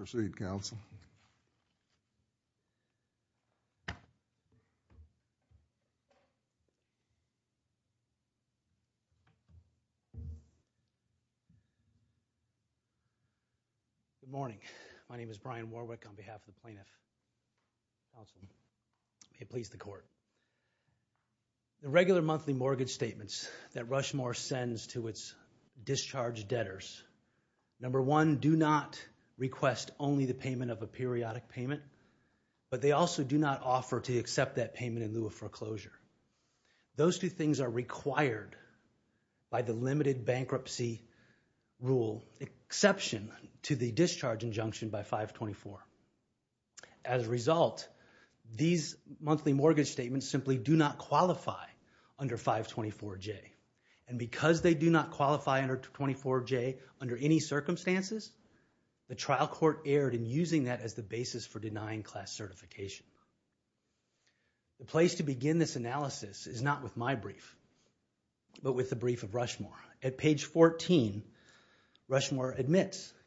Good morning. My name is Brian Warwick on behalf of the Plaintiff's Counsel. May it payments that Rushmore sends to its discharge debtors. Number one, do not request only the payment of a periodic payment, but they also do not offer to accept that payment in lieu of foreclosure. Those two things are required by the limited bankruptcy rule, with the exception to the discharge injunction by 524. As a result, these monthly mortgage statements simply do not qualify under 524J. And because they do not qualify under 524J under any circumstances, the trial court erred in using that as the basis for denying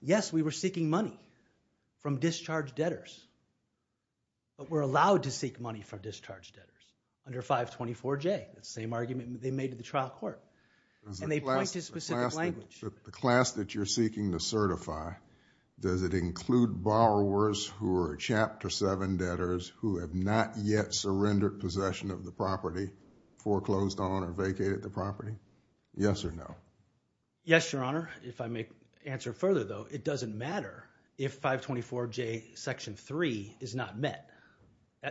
Yes, we were seeking money from discharge debtors, but we're allowed to seek money from discharge debtors under 524J. The same argument they made to the trial court. And they point to specific language. The class that you're seeking to certify, does it include borrowers who are Chapter 7 debtors who have not yet surrendered possession of the property, foreclosed on or vacated the property? Yes or no? Yes, Your Honor. If I may answer further, though, it doesn't matter if 524J Section 3 is not met.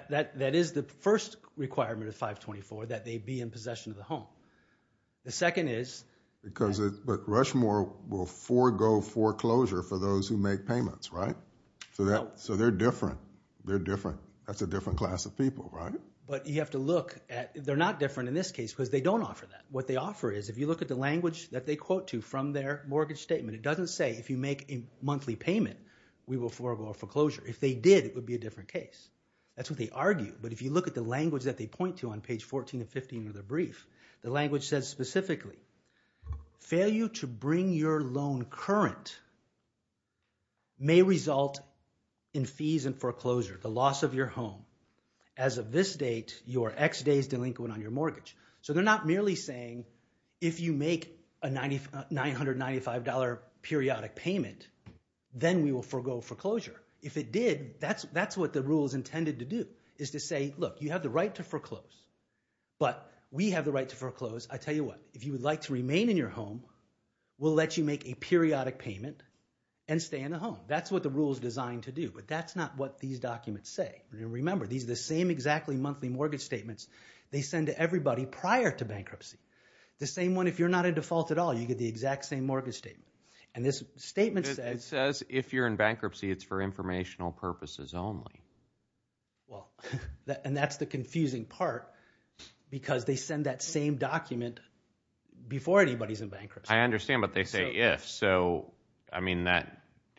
That is the first requirement of 524, that they be in possession of the home. The second is... But Rushmore will forego foreclosure for those who make payments, right? So they're different. They're different. That's a different class of people, right? But you have to look at... They're not different in this case because they don't offer that. What they offer is, if you look at the language that they quote to from their mortgage statement, it doesn't say if you make a monthly payment, we will forego foreclosure. If they did, it would be a different case. That's what they argue. But if you look at the language that they point to on page 14 and 15 of the brief, the language says specifically, failure to bring your loan current may result in fees and foreclosure, the loss of your home. As of this date, you are ex-des delinquent on your mortgage. So they're not merely saying if you make a $995 periodic payment, then we will forego foreclosure. If it did, that's what the rule is intended to do, is to say, look, you have the right to foreclose, but we have the right to foreclose. I tell you what, if you would like to remain in your home, we'll let you make a periodic payment and stay in the home. That's what the rule is designed to do. But that's not what these documents say. Remember, these are the same exactly monthly mortgage statements they send to everybody prior to bankruptcy. The same one, if you're not in default at all, you get the exact same mortgage statement. And this statement says... Well, and that's the confusing part, because they send that same document before anybody's in bankruptcy. I understand, but they say if. So, I mean,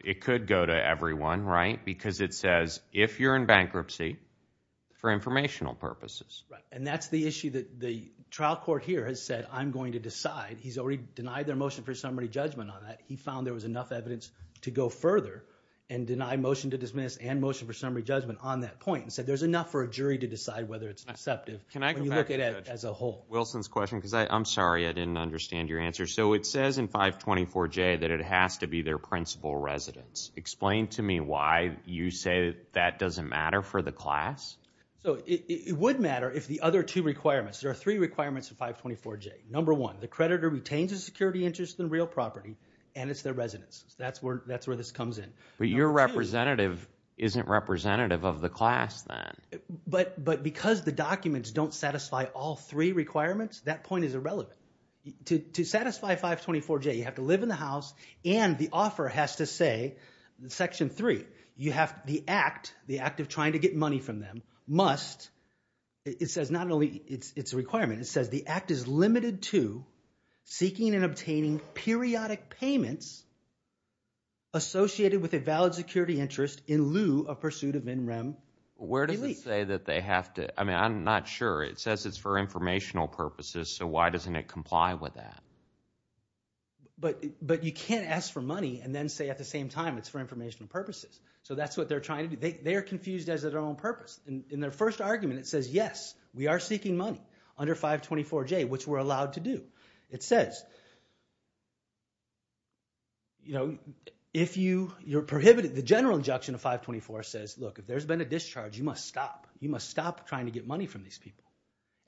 it could go to everyone, right? Because it says, if you're in bankruptcy, for informational purposes. Right. And that's the issue that the trial court here has said, I'm going to decide. He's already denied their motion for summary judgment on that. He found there was enough evidence to go further and deny motion to dismiss and motion for summary judgment on that point and said there's enough for a jury to decide whether it's deceptive when you look at it as a whole. Wilson's question, because I'm sorry I didn't understand your answer. So, it says in 524J that it has to be their principal residence. Explain to me why you say that doesn't matter for the class? So, it would matter if the other two requirements, there are three requirements of 524J. Number one, the creditor retains a security interest in real property and it's their residence. That's where this comes in. But your representative isn't representative of the class then. But because the documents don't satisfy all three requirements, that point is irrelevant. To satisfy 524J, you have to live in the house and the offer has to say, section three, you have the act, the act of trying to get money from them, must, it says not only it's a requirement, it says the act is limited to seeking and obtaining periodic payments associated with a valid security interest in lieu of pursuit of in rem. Where does it say that they have to, I mean I'm not sure. It says it's for informational purposes, so why doesn't it comply with that? But you can't ask for money and then say at the same time it's for informational purposes. So that's what they're trying to do. They are confused as to their own purpose. In their first argument, it says, yes, we are seeking money under 524J, which we're allowed to do. It says, you know, if you, you're prohibited, the general injunction of 524 says, look, if there's been a discharge, you must stop. You must stop trying to get money from these people.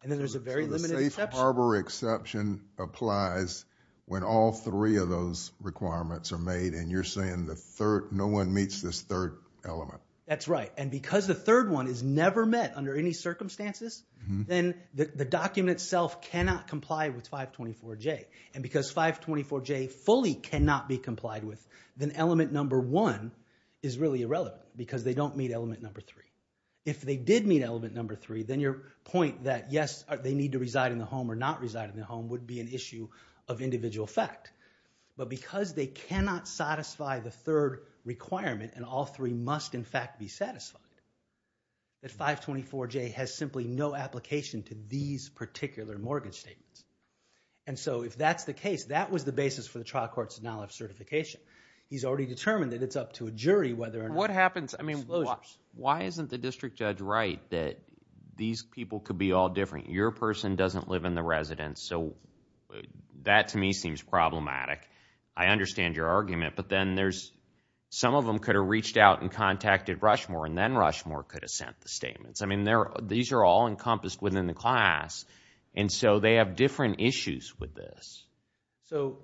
And then there's a very limited exception. So the safe harbor exception applies when all three of those requirements are made and you're saying the third, no one meets this third element. That's right. And because the third one is never met under any circumstances, then the document itself cannot comply with 524J. And because 524J fully cannot be complied with, then element number one is really irrelevant because they don't meet element number three. If they did meet element number three, then your point that yes, they need to reside in the home or not reside in the home would be an issue of individual fact. But because they cannot satisfy the third requirement and all three must in fact be satisfied, that 524J has simply no application to these particular mortgage statements. And so if that's the case, that was the basis for the trial court's denial of certification. He's already determined that it's up to a jury whether or not. Why isn't the district judge right that these people could be all different? Your person doesn't live in the residence. So that to me seems problematic. I understand your argument. But then there's some of them could have reached out and contacted Rushmore and then Rushmore could have sent the statements. I mean, these are all encompassed within the class. And so they have different issues with this. So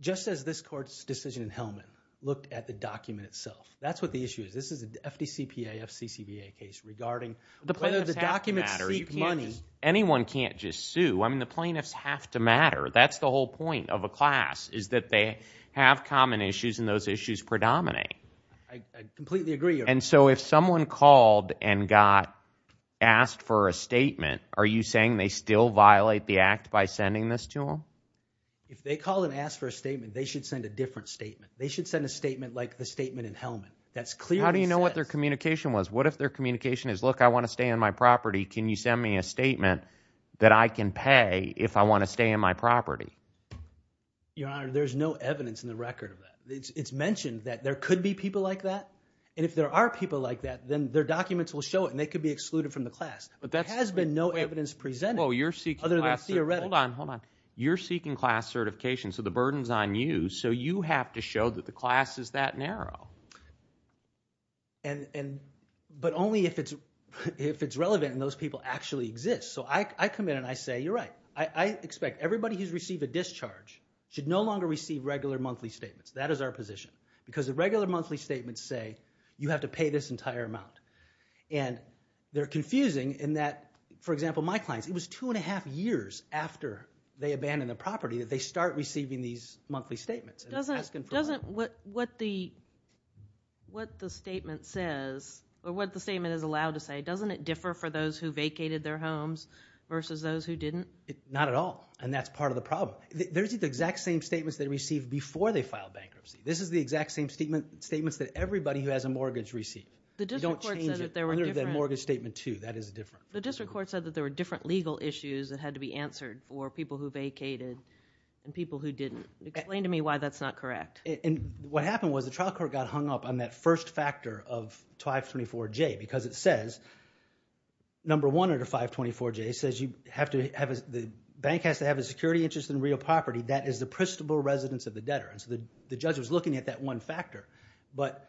just as this court's decision in Hellman looked at the document itself, that's what the issue is. This is an FDCPA, FCCPA case regarding whether the documents seek money. Anyone can't just sue. I mean the plaintiffs have to matter. That's the whole point of a class is that they have common issues and those issues predominate. I completely agree. And so if someone called and got asked for a statement, are you saying they still violate the act by sending this to them? If they call and ask for a statement, they should send a different statement. They should send a statement like the statement in Hellman. That's clearly sent. How do you know what their communication was? What if their communication is, look, I want to stay on my property. Can you send me a statement that I can pay if I want to stay on my property? Your Honor, there's no evidence in the record of that. It's mentioned that there could be people like that. And if there are people like that, then their documents will show it and they could be excluded from the class. There has been no evidence presented other than theoretically. Hold on, hold on. You're seeking class certification, so the burden's on you. So you have to show that the class is that narrow. But only if it's relevant and those people actually exist. So I come in and I say, you're right. I expect everybody who's received a discharge should no longer receive regular monthly statements. That is our position because the regular monthly statements say you have to pay this entire amount. And they're confusing in that, for example, my clients, it was two and a half years after they abandoned the property that they start receiving these monthly statements. Doesn't what the statement says or what the statement is allowed to say, doesn't it differ for those who vacated their homes versus those who didn't? Not at all. And that's part of the problem. Those are the exact same statements they received before they filed bankruptcy. This is the exact same statements that everybody who has a mortgage received. You don't change it other than mortgage statement two. That is different. The district court said that there were different legal issues that had to be answered for people who vacated and people who didn't. Explain to me why that's not correct. And what happened was the trial court got hung up on that first factor of 524J because it says, number one under 524J says the bank has to have a security interest in real property. That is the principal residence of the debtor. And so the judge was looking at that one factor. But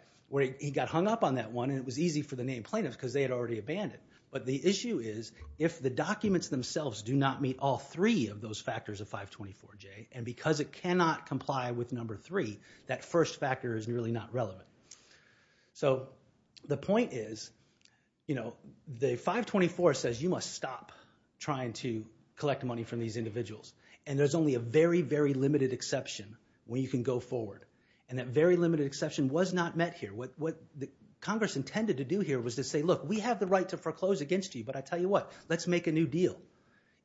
he got hung up on that one and it was easy for the named plaintiffs because they had already abandoned. But the issue is if the documents themselves do not meet all three of those factors of 524J and because it cannot comply with number three, that first factor is really not relevant. So the point is, you know, the 524 says you must stop trying to collect money from these individuals. And there's only a very, very limited exception when you can go forward. And that very limited exception was not met here. What Congress intended to do here was to say, look, we have the right to foreclose against you, but I tell you what, let's make a new deal.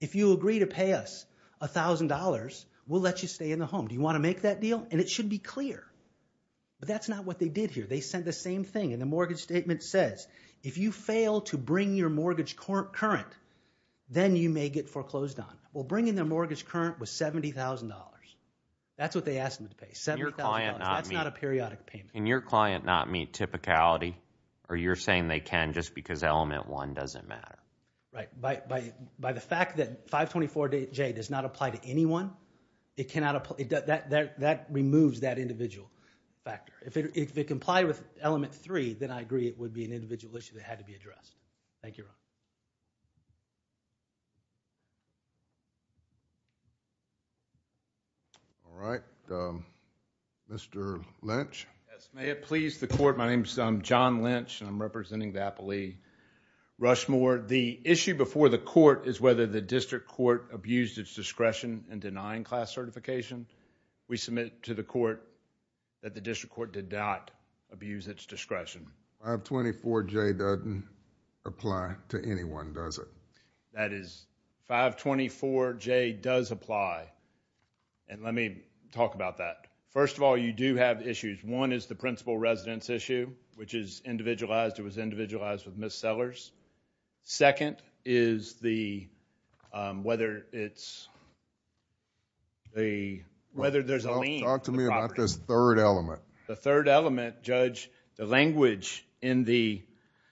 If you agree to pay us $1,000, we'll let you stay in the home. Do you want to make that deal? And it should be clear. But that's not what they did here. They said the same thing in the mortgage statement says, if you fail to bring your mortgage current, then you may get foreclosed on. Well, bringing their mortgage current was $70,000. That's what they asked them to pay, $70,000. That's not a periodic payment. Can your client not meet typicality, or you're saying they can just because element one doesn't matter? Right. By the fact that 524J does not apply to anyone, that removes that individual factor. If it complied with element three, then I agree it would be an individual issue that had to be addressed. Thank you, Ron. All right. Mr. Lynch. Yes. May it please the court. My name is John Lynch, and I'm representing the appellee Rushmore. The issue before the court is whether the district court abused its discretion in denying class certification. We submit to the court that the district court did not abuse its discretion. 524J doesn't apply to anyone, does it? That is, 524J does apply. Let me talk about that. First of all, you do have issues. One is the principal residence issue, which is individualized. It was individualized with Ms. Sellers. Second is whether there's a lien. Talk to me about this third element. The third element, Judge, the language in the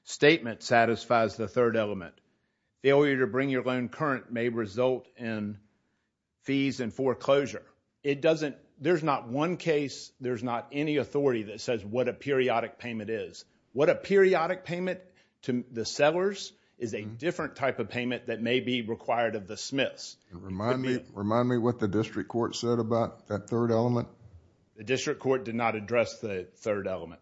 statement satisfies the third element. Failure to bring your loan current may result in fees and foreclosure. There's not one case, there's not any authority that says what a periodic payment is. What a periodic payment to the Sellers is a different type of payment that may be required of the Smiths. Remind me what the district court said about that third element. The district court did not address the third element.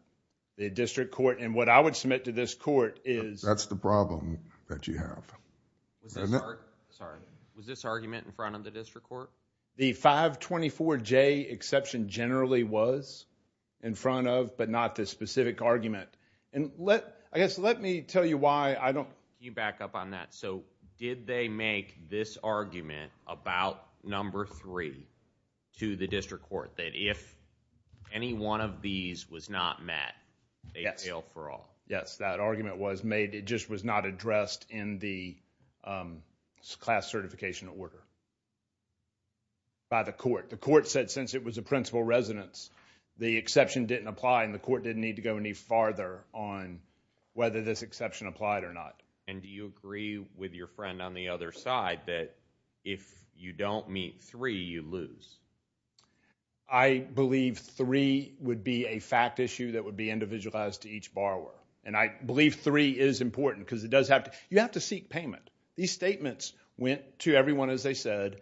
The district court, and what I would submit to this court is... That's the problem that you have. Was this argument in front of the district court? The 524J exception generally was in front of, but not the specific argument. Let me tell you why I don't... Can you back up on that? Did they make this argument about number three to the district court, that if any one of these was not met, they'd fail for all? Yes, that argument was made. It just was not addressed in the class certification order by the court. The court said since it was a principal residence, the exception didn't apply, and the court didn't need to go any farther on whether this exception applied or not. And do you agree with your friend on the other side that if you don't meet three, you lose? I believe three would be a fact issue that would be individualized to each borrower. And I believe three is important because it does have to... You have to seek payment. These statements went to everyone, as I said.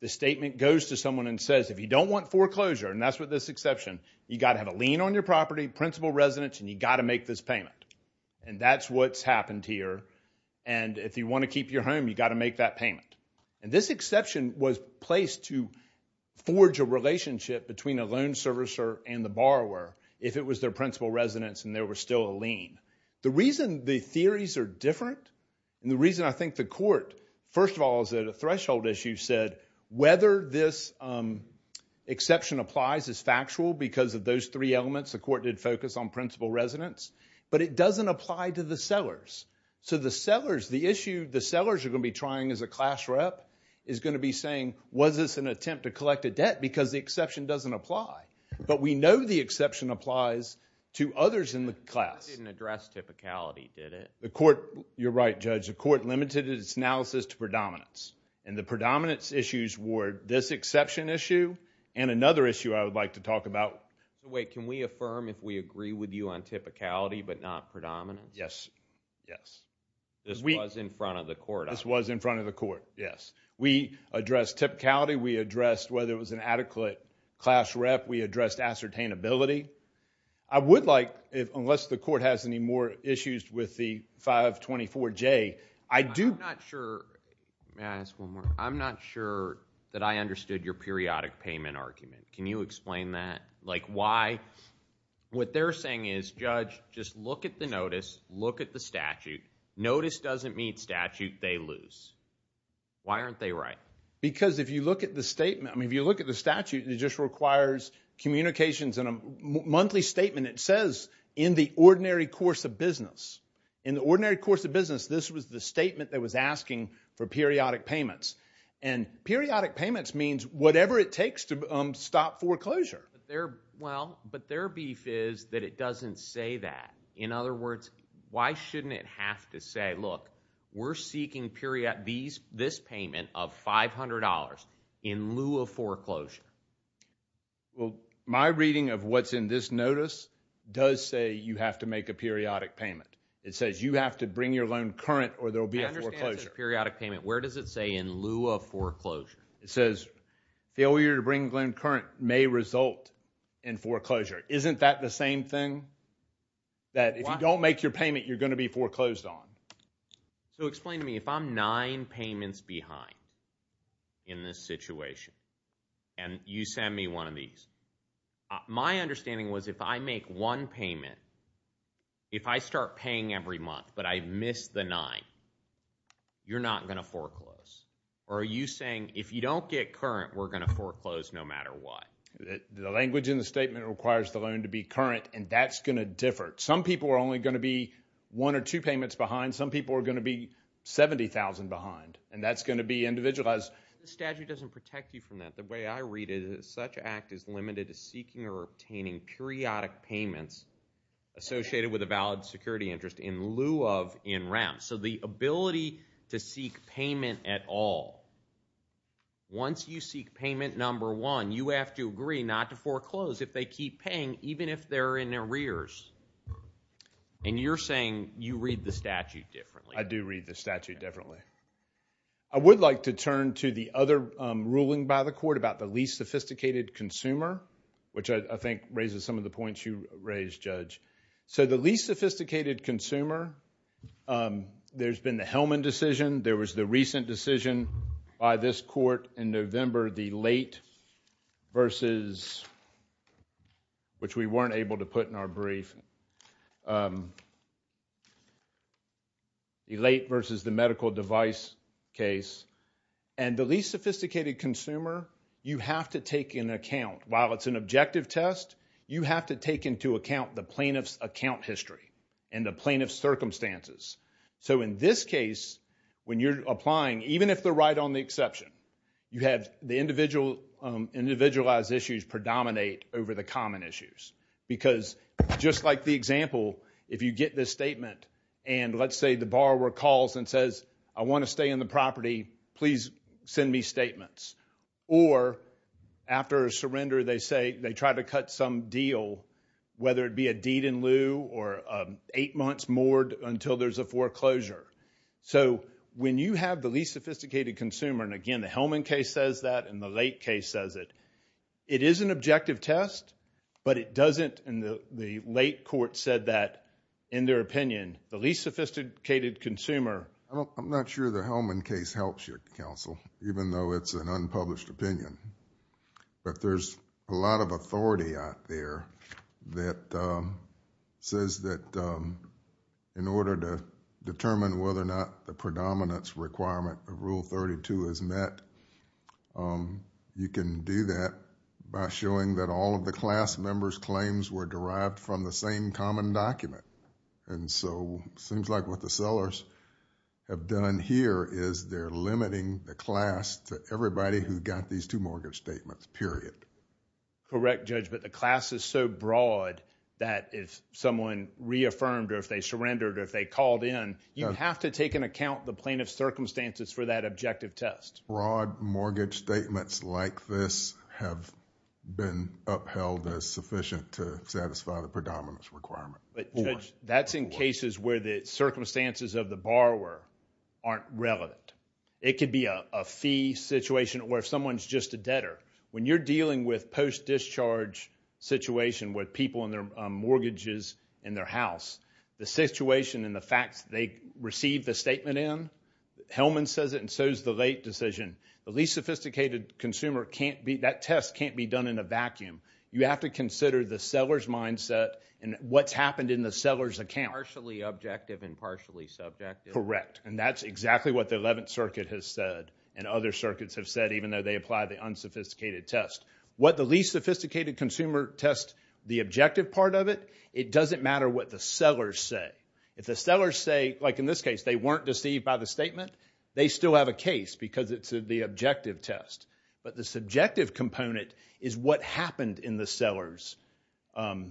The statement goes to someone and says, if you don't want foreclosure, and that's with this exception, you've got to have a lien on your property, principal residence, and you've got to make this payment. And that's what's happened here. And if you want to keep your home, you've got to make that payment. And this exception was placed to forge a relationship between a loan servicer and the borrower if it was their principal residence and there was still a lien. The reason the theories are different and the reason I think the court, first of all, is that a threshold issue said whether this exception applies is factual because of those three elements. The court did focus on principal residence. But it doesn't apply to the sellers. So the sellers, the issue the sellers are going to be trying as a class rep is going to be saying, was this an attempt to collect a debt? Because the exception doesn't apply. But we know the exception applies to others in the class. It didn't address typicality, did it? You're right, Judge. The court limited its analysis to predominance. And the predominance issues were this exception issue and another issue I would like to talk about. Wait, can we affirm if we agree with you on typicality but not predominance? Yes, yes. This was in front of the court. This was in front of the court, yes. We addressed typicality. We addressed whether it was an adequate class rep. We addressed ascertainability. I would like, unless the court has any more issues with the 524J, I do. I'm not sure. May I ask one more? I'm not sure that I understood your periodic payment argument. Can you explain that? Like why? What they're saying is, Judge, just look at the notice, look at the statute. Notice doesn't mean statute. They lose. Why aren't they right? Because if you look at the statement, I mean, if you look at the statute, it just requires communications in a monthly statement. It says, in the ordinary course of business. In the ordinary course of business, this was the statement that was asking for periodic payments. And periodic payments means whatever it takes to stop foreclosure. Well, but their beef is that it doesn't say that. In other words, why shouldn't it have to say, look, we're seeking this payment of $500 in lieu of foreclosure? Well, my reading of what's in this notice does say you have to make a periodic payment. It says you have to bring your loan current or there will be a foreclosure. I understand it's a periodic payment. Where does it say in lieu of foreclosure? It says failure to bring loan current may result in foreclosure. Isn't that the same thing that if you don't make your payment, you're going to be foreclosed on? So explain to me, if I'm nine payments behind in this situation and you send me one of these, my understanding was if I make one payment, if I start paying every month but I miss the nine, you're not going to foreclose. Are you saying if you don't get current, we're going to foreclose no matter what? The language in the statement requires the loan to be current, and that's going to differ. Some people are only going to be one or two payments behind. Some people are going to be 70,000 behind, and that's going to be individualized. The statute doesn't protect you from that. The way I read it is such an act is limited to seeking or obtaining periodic payments associated with a valid security interest in lieu of in rem. So the ability to seek payment at all. Once you seek payment number one, you have to agree not to foreclose if they keep paying, even if they're in arrears. And you're saying you read the statute differently. I do read the statute differently. I would like to turn to the other ruling by the court about the least sophisticated consumer, which I think raises some of the points you raised, Judge. So the least sophisticated consumer, there's been the Hellman decision. There was the recent decision by this court in November, the late versus, which we weren't able to put in our brief, the late versus the medical device case. And the least sophisticated consumer, you have to take into account, while it's an objective test, you have to take into account the plaintiff's account history and the plaintiff's circumstances. So in this case, when you're applying, even if they're right on the exception, you have the individualized issues predominate over the common issues. Because just like the example, if you get this statement and, let's say, the borrower calls and says, I want to stay in the property. Please send me statements. Or after a surrender, they try to cut some deal, whether it be a deed in lieu or eight months more until there's a foreclosure. So when you have the least sophisticated consumer, and again, the Hellman case says that and the late case says it, it is an objective test, but it doesn't, and the late court said that in their opinion, the least sophisticated consumer. I'm not sure the Hellman case helps you, Counsel, even though it's an unpublished opinion. But there's a lot of authority out there that says that in order to determine whether or not the predominance requirement of Rule 32 is met, you can do that by showing that all of the class members' claims were derived from the same common document. And so it seems like what the sellers have done here is they're limiting the class to everybody who got these two mortgage statements, period. Correct, Judge, but the class is so broad that if someone reaffirmed or if they surrendered or if they called in, you have to take into account the plaintiff's circumstances for that objective test. Broad mortgage statements like this have been upheld as sufficient to satisfy the predominance requirement. But, Judge, that's in cases where the circumstances of the borrower aren't relevant. It could be a fee situation or if someone's just a debtor. When you're dealing with post-discharge situations with people and their mortgages in their house, the situation and the facts they received the statement in, Hellman says it and so does the late decision. The least sophisticated consumer can't be, that test can't be done in a vacuum. You have to consider the seller's mindset and what's happened in the seller's account. Partially objective and partially subjective. Correct, and that's exactly what the 11th Circuit has said and other circuits have said even though they apply the unsophisticated test. What the least sophisticated consumer tests, the objective part of it, it doesn't matter what the sellers say. If the sellers say, like in this case, they weren't deceived by the statement, they still have a case because it's the objective test. But the subjective component is what happened in the seller's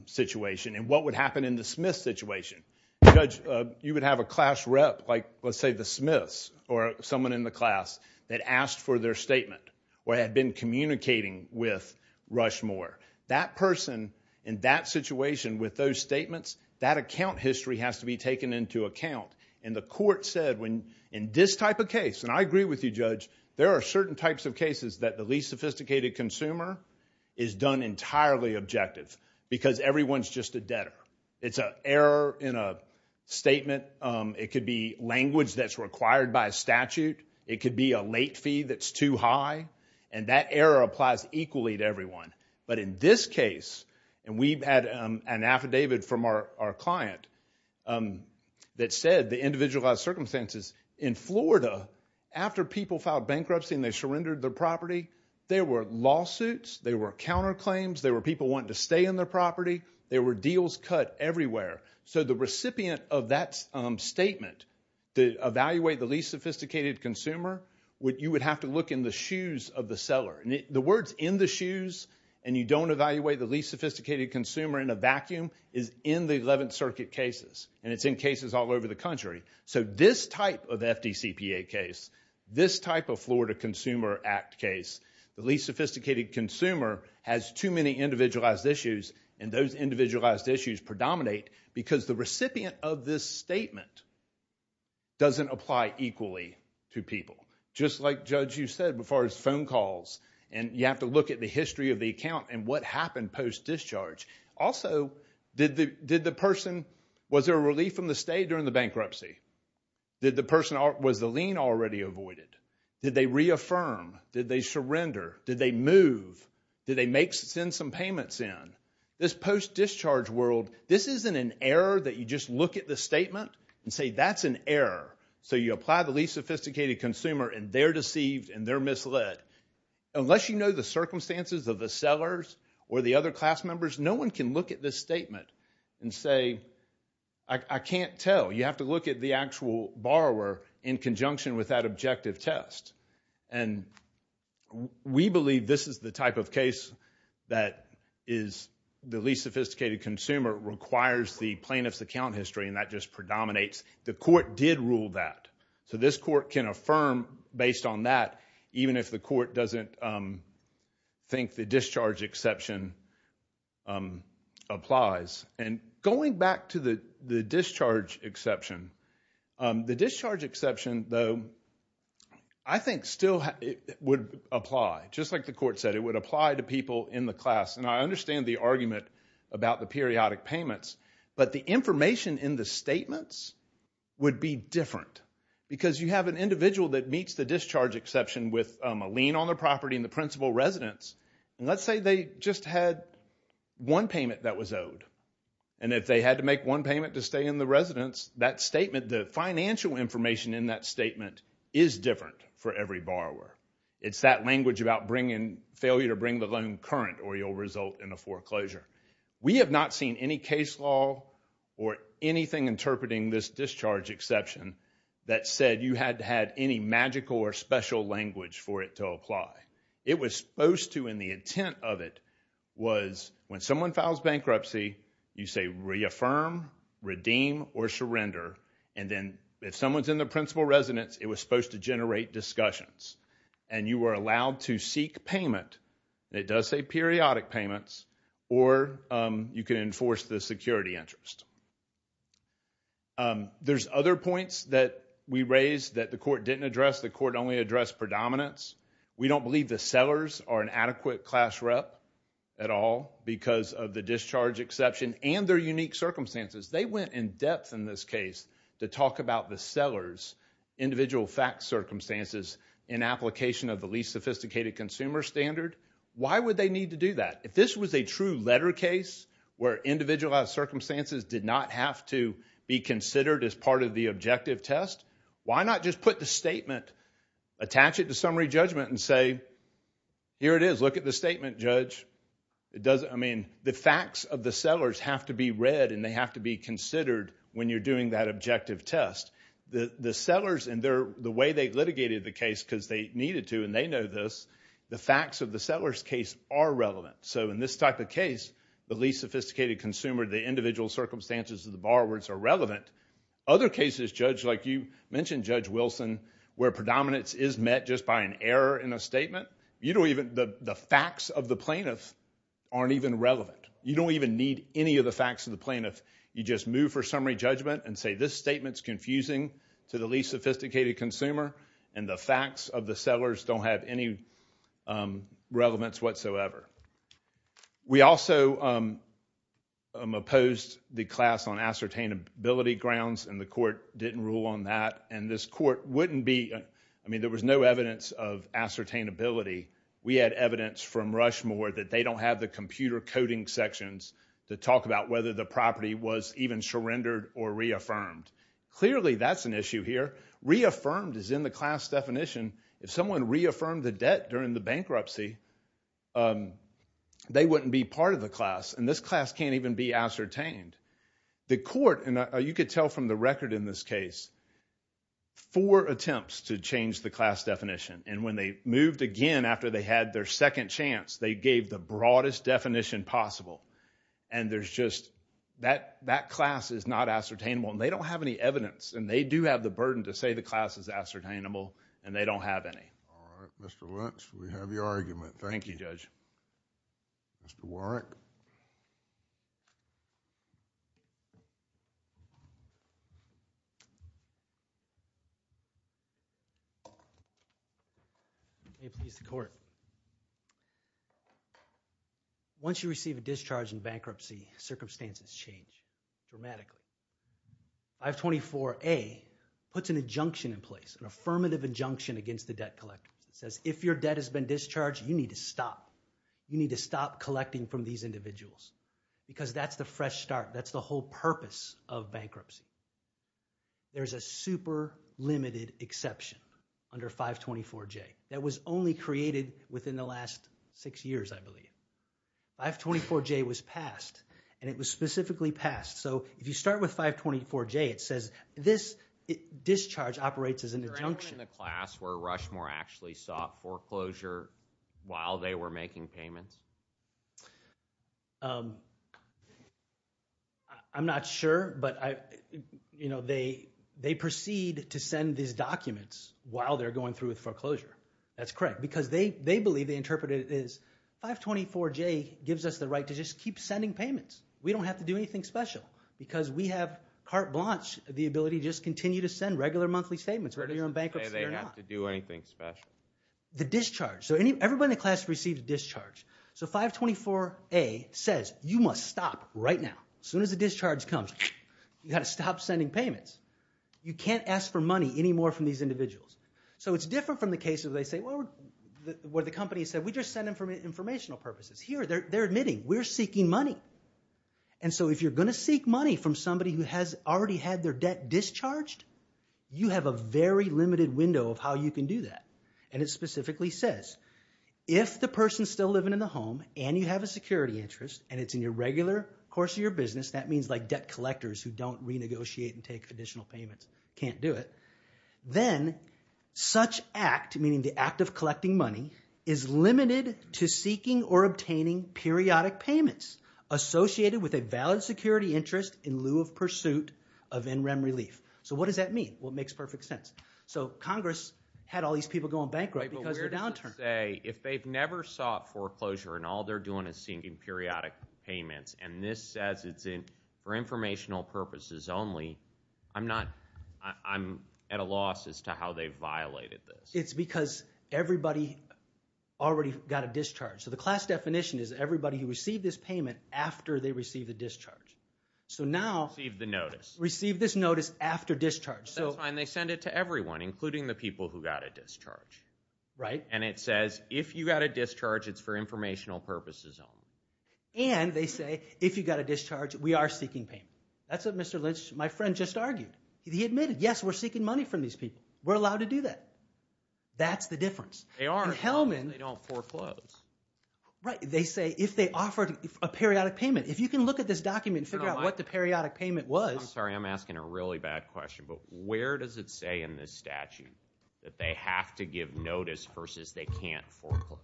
situation and what would happen in the Smith situation. Judge, you would have a class rep like, let's say, the Smiths or someone in the class that asked for their statement or had been communicating with Rushmore. That person in that situation with those statements, that account history has to be taken into account. And the court said in this type of case, and I agree with you, Judge, there are certain types of cases that the least sophisticated consumer is done entirely objective because everyone's just a debtor. It's an error in a statement. It could be language that's required by statute. It could be a late fee that's too high, and that error applies equally to everyone. But in this case, and we've had an affidavit from our client that said the individualized circumstances in Florida after people filed bankruptcy and they surrendered their property, there were lawsuits, there were counterclaims, there were people wanting to stay in their property, there were deals cut everywhere. So the recipient of that statement to evaluate the least sophisticated consumer, you would have to look in the shoes of the seller. The words in the shoes and you don't evaluate the least sophisticated consumer in a vacuum is in the Eleventh Circuit cases, and it's in cases all over the country. So this type of FDCPA case, this type of Florida Consumer Act case, the least sophisticated consumer has too many individualized issues, and those individualized issues predominate because the recipient of this statement doesn't apply equally to people. Just like, Judge, you said as far as phone calls, and you have to look at the history of the account and what happened post-discharge. Also, was there a relief from the state during the bankruptcy? Was the lien already avoided? Did they reaffirm? Did they surrender? Did they move? Did they send some payments in? This post-discharge world, this isn't an error that you just look at the statement and say that's an error. So you apply the least sophisticated consumer and they're deceived and they're misled. Unless you know the circumstances of the sellers or the other class members, no one can look at this statement and say, I can't tell. You have to look at the actual borrower in conjunction with that objective test. And we believe this is the type of case that is the least sophisticated consumer requires the plaintiff's account history, and that just predominates. The court did rule that. So this court can affirm based on that, even if the court doesn't think the discharge exception applies. And going back to the discharge exception, the discharge exception, though, I think still would apply. Just like the court said, it would apply to people in the class. And I understand the argument about the periodic payments, but the information in the statements would be different because you have an individual that meets the discharge exception with a lien on their property and the principal residence, and let's say they just had one payment that was owed. And if they had to make one payment to stay in the residence, that statement, the financial information in that statement, is different for every borrower. It's that language about failure to bring the loan current or you'll result in a foreclosure. We have not seen any case law or anything interpreting this discharge exception that said you had to have any magical or special language for it to apply. It was supposed to, and the intent of it was when someone files bankruptcy, you say reaffirm, redeem, or surrender, and then if someone's in the principal residence, it was supposed to generate discussions. And you were allowed to seek payment, and it does say periodic payments, or you can enforce the security interest. There's other points that we raised that the court didn't address. The court only addressed predominance. We don't believe the sellers are an adequate class rep at all because of the discharge exception and their unique circumstances. They went in depth in this case to talk about the seller's individual fact circumstances in application of the least sophisticated consumer standard. Why would they need to do that? If this was a true letter case where individualized circumstances did not have to be considered as part of the objective test, why not just put the statement, attach it to summary judgment and say, here it is, look at the statement, judge. I mean, the facts of the sellers have to be read and they have to be considered when you're doing that objective test. The sellers and the way they litigated the case because they needed to, and they know this, the facts of the seller's case are relevant. So in this type of case, the least sophisticated consumer, the individual circumstances of the borrowers are relevant. Other cases, judge, like you mentioned, Judge Wilson, where predominance is met just by an error in a statement, the facts of the plaintiff aren't even relevant. You don't even need any of the facts of the plaintiff. You just move for summary judgment and say, this statement's confusing to the least sophisticated consumer and the facts of the sellers don't have any relevance whatsoever. We also opposed the class on ascertainability grounds and the court didn't rule on that. And this court wouldn't be, I mean, there was no evidence of ascertainability. We had evidence from Rushmore that they don't have the computer coding sections to talk about whether the property was even surrendered or reaffirmed. Clearly, that's an issue here. Reaffirmed is in the class definition. If someone reaffirmed the debt during the bankruptcy, they wouldn't be part of the class, and this class can't even be ascertained. The court, and you could tell from the record in this case, four attempts to change the class definition, and when they moved again after they had their second chance, they gave the broadest definition possible. And there's just, that class is not ascertainable, and they don't have any evidence, and they do have the burden to say the class is ascertainable, and they don't have any. All right. Mr. Lynch, we have your argument. Thank you. Thank you, Judge. Mr. Warrick. May it please the court. Once you receive a discharge in bankruptcy, circumstances change dramatically. 524A puts an injunction in place, an affirmative injunction against the debt collector. It says if your debt has been discharged, you need to stop. You need to stop collecting from these individuals because that's the fresh start. That's the whole purpose of bankruptcy. There's a super limited exception under 524J that was only created within the last six years, I believe. 524J was passed, and it was specifically passed. So if you start with 524J, it says this discharge operates as an injunction. Is there anyone in the class where Rushmore actually sought foreclosure while they were making payments? I'm not sure, but they proceed to send these documents while they're going through with foreclosure. That's correct. Because they believe, they interpret it as, 524J gives us the right to just keep sending payments. We don't have to do anything special because we have carte blanche, the ability to just continue to send regular monthly statements. Whether you're in bankruptcy or not. They have to do anything special. The discharge. So everybody in the class receives a discharge. So 524A says you must stop right now. As soon as the discharge comes, you've got to stop sending payments. You can't ask for money anymore from these individuals. So it's different from the case where the company said, we just send them for informational purposes. Here, they're admitting, we're seeking money. And so if you're going to seek money from somebody who has already had their debt discharged, you have a very limited window of how you can do that. And it specifically says, if the person's still living in the home and you have a security interest, and it's in your regular course of your business, that means debt collectors who don't renegotiate and take additional payments can't do it, then such act, meaning the act of collecting money, is limited to seeking or obtaining periodic payments associated with a valid security interest in lieu of pursuit of NREM relief. So what does that mean? Well, it makes perfect sense. So Congress had all these people going bankrupt because they're downturned. If they've never sought foreclosure and all they're doing is seeking periodic payments, and this says it's for informational purposes only, I'm at a loss as to how they've violated this. It's because everybody already got a discharge. So the class definition is everybody who received this payment after they received the discharge. Received the notice. Received this notice after discharge. That's fine. They send it to everyone, including the people who got a discharge. Right. And it says, if you got a discharge, it's for informational purposes only. And they say, if you got a discharge, we are seeking payment. That's what Mr. Lynch, my friend, just argued. He admitted, yes, we're seeking money from these people. We're allowed to do that. That's the difference. They are, but they don't foreclose. Right. They say, if they offered a periodic payment. If you can look at this document and figure out what the periodic payment was. I'm sorry, I'm asking a really bad question, but where does it say in this statute that they have to give notice versus they can't foreclose?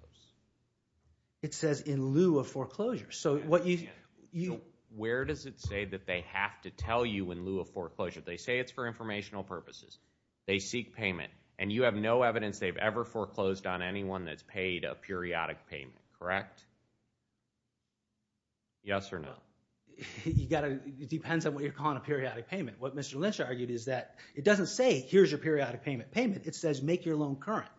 It says in lieu of foreclosure. Where does it say that they have to tell you in lieu of foreclosure? They say it's for informational purposes. They seek payment. And you have no evidence they've ever foreclosed on anyone that's paid a periodic payment, correct? Yes or no? It depends on what you're calling a periodic payment. What Mr. Lynch argued is that it doesn't say, here's your periodic payment payment. It says, make your loan current.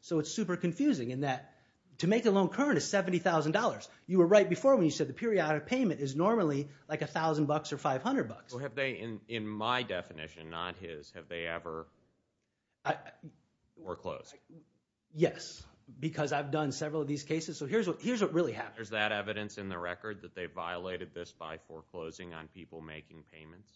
So it's super confusing in that to make a loan current is $70,000. You were right before when you said the periodic payment is normally like $1,000 or $500. In my definition, not his, have they ever foreclosed? Yes, because I've done several of these cases. So here's what really happens. Is that evidence in the record that they violated this by foreclosing on people making payments?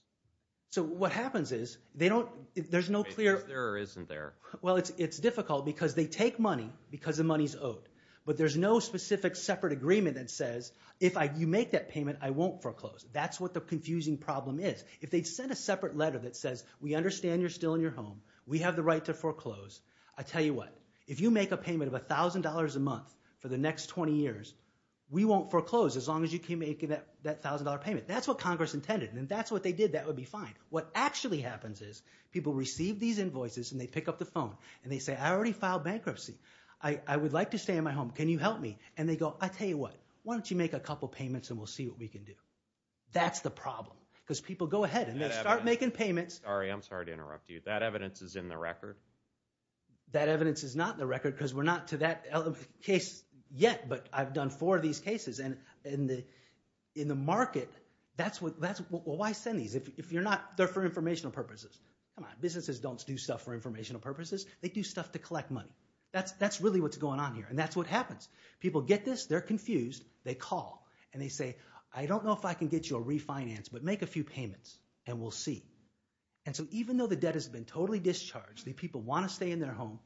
So what happens is, there's no clear... Is there or isn't there? Well, it's difficult because they take money because the money's owed. But there's no specific separate agreement that says, if you make that payment, I won't foreclose. That's what the confusing problem is. If they'd sent a separate letter that says, we understand you're still in your home. We have the right to foreclose. I tell you what. If you make a payment of $1,000 a month for the next 20 years, we won't foreclose as long as you keep making that $1,000 payment. That's what Congress intended. And if that's what they did, that would be fine. What actually happens is, people receive these invoices and they pick up the phone and they say, I already filed bankruptcy. I would like to stay in my home. Can you help me? And they go, I tell you what. Why don't you make a couple payments and we'll see what we can do? That's the problem. Because people go ahead and they start making payments. Sorry, I'm sorry to interrupt you. That evidence is in the record? That evidence is not in the record because we're not to that case yet. But I've done four of these cases. And in the market, that's what... Well, why send these? If you're not... They're for informational purposes. Come on. Businesses don't do stuff for informational purposes. They do stuff to collect money. That's really what's going on here. And that's what happens. People get this. They're confused. They call and they say, I don't know if I can get you a refinance, but make a few payments and we'll see. And so even though the debt has been totally discharged, the people want to stay in their home,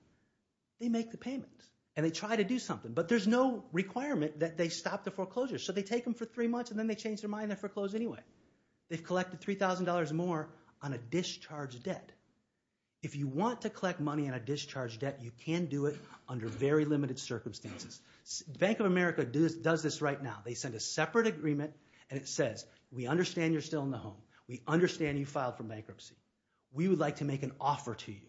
they make the payment and they try to do something. But there's no requirement that they stop the foreclosure. So they take them for three months and then they change their mind and foreclose anyway. They've collected $3,000 more on a discharged debt. If you want to collect money on a discharged debt, you can do it under very limited circumstances. Bank of America does this right now. They send a separate agreement and it says, we understand you're still in the home. We understand you filed for bankruptcy. We would like to make an offer to you.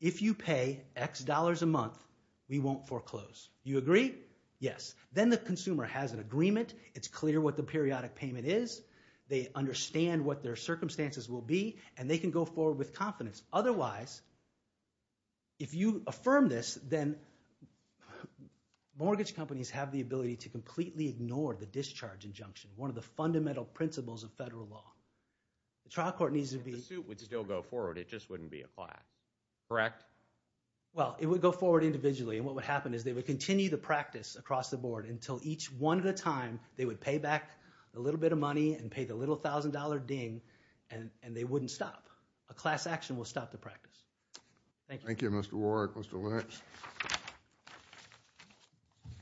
If you pay X dollars a month, we won't foreclose. You agree? Yes. Then the consumer has an agreement. It's clear what the periodic payment is. They understand what their circumstances will be and they can go forward with confidence. Otherwise, if you affirm this, then mortgage companies have the ability to completely ignore the discharge injunction, one of the fundamental principles of federal law. The trial court needs to be... If the suit would still go forward, it just wouldn't be applied, correct? Well, it would go forward individually. And what would happen is they would continue the practice across the board until each one at a time they would pay back a little bit of money and pay the little $1,000 ding and they wouldn't stop. A class action will stop the practice. Thank you. Thank you, Mr. Warwick. Mr. Lynch.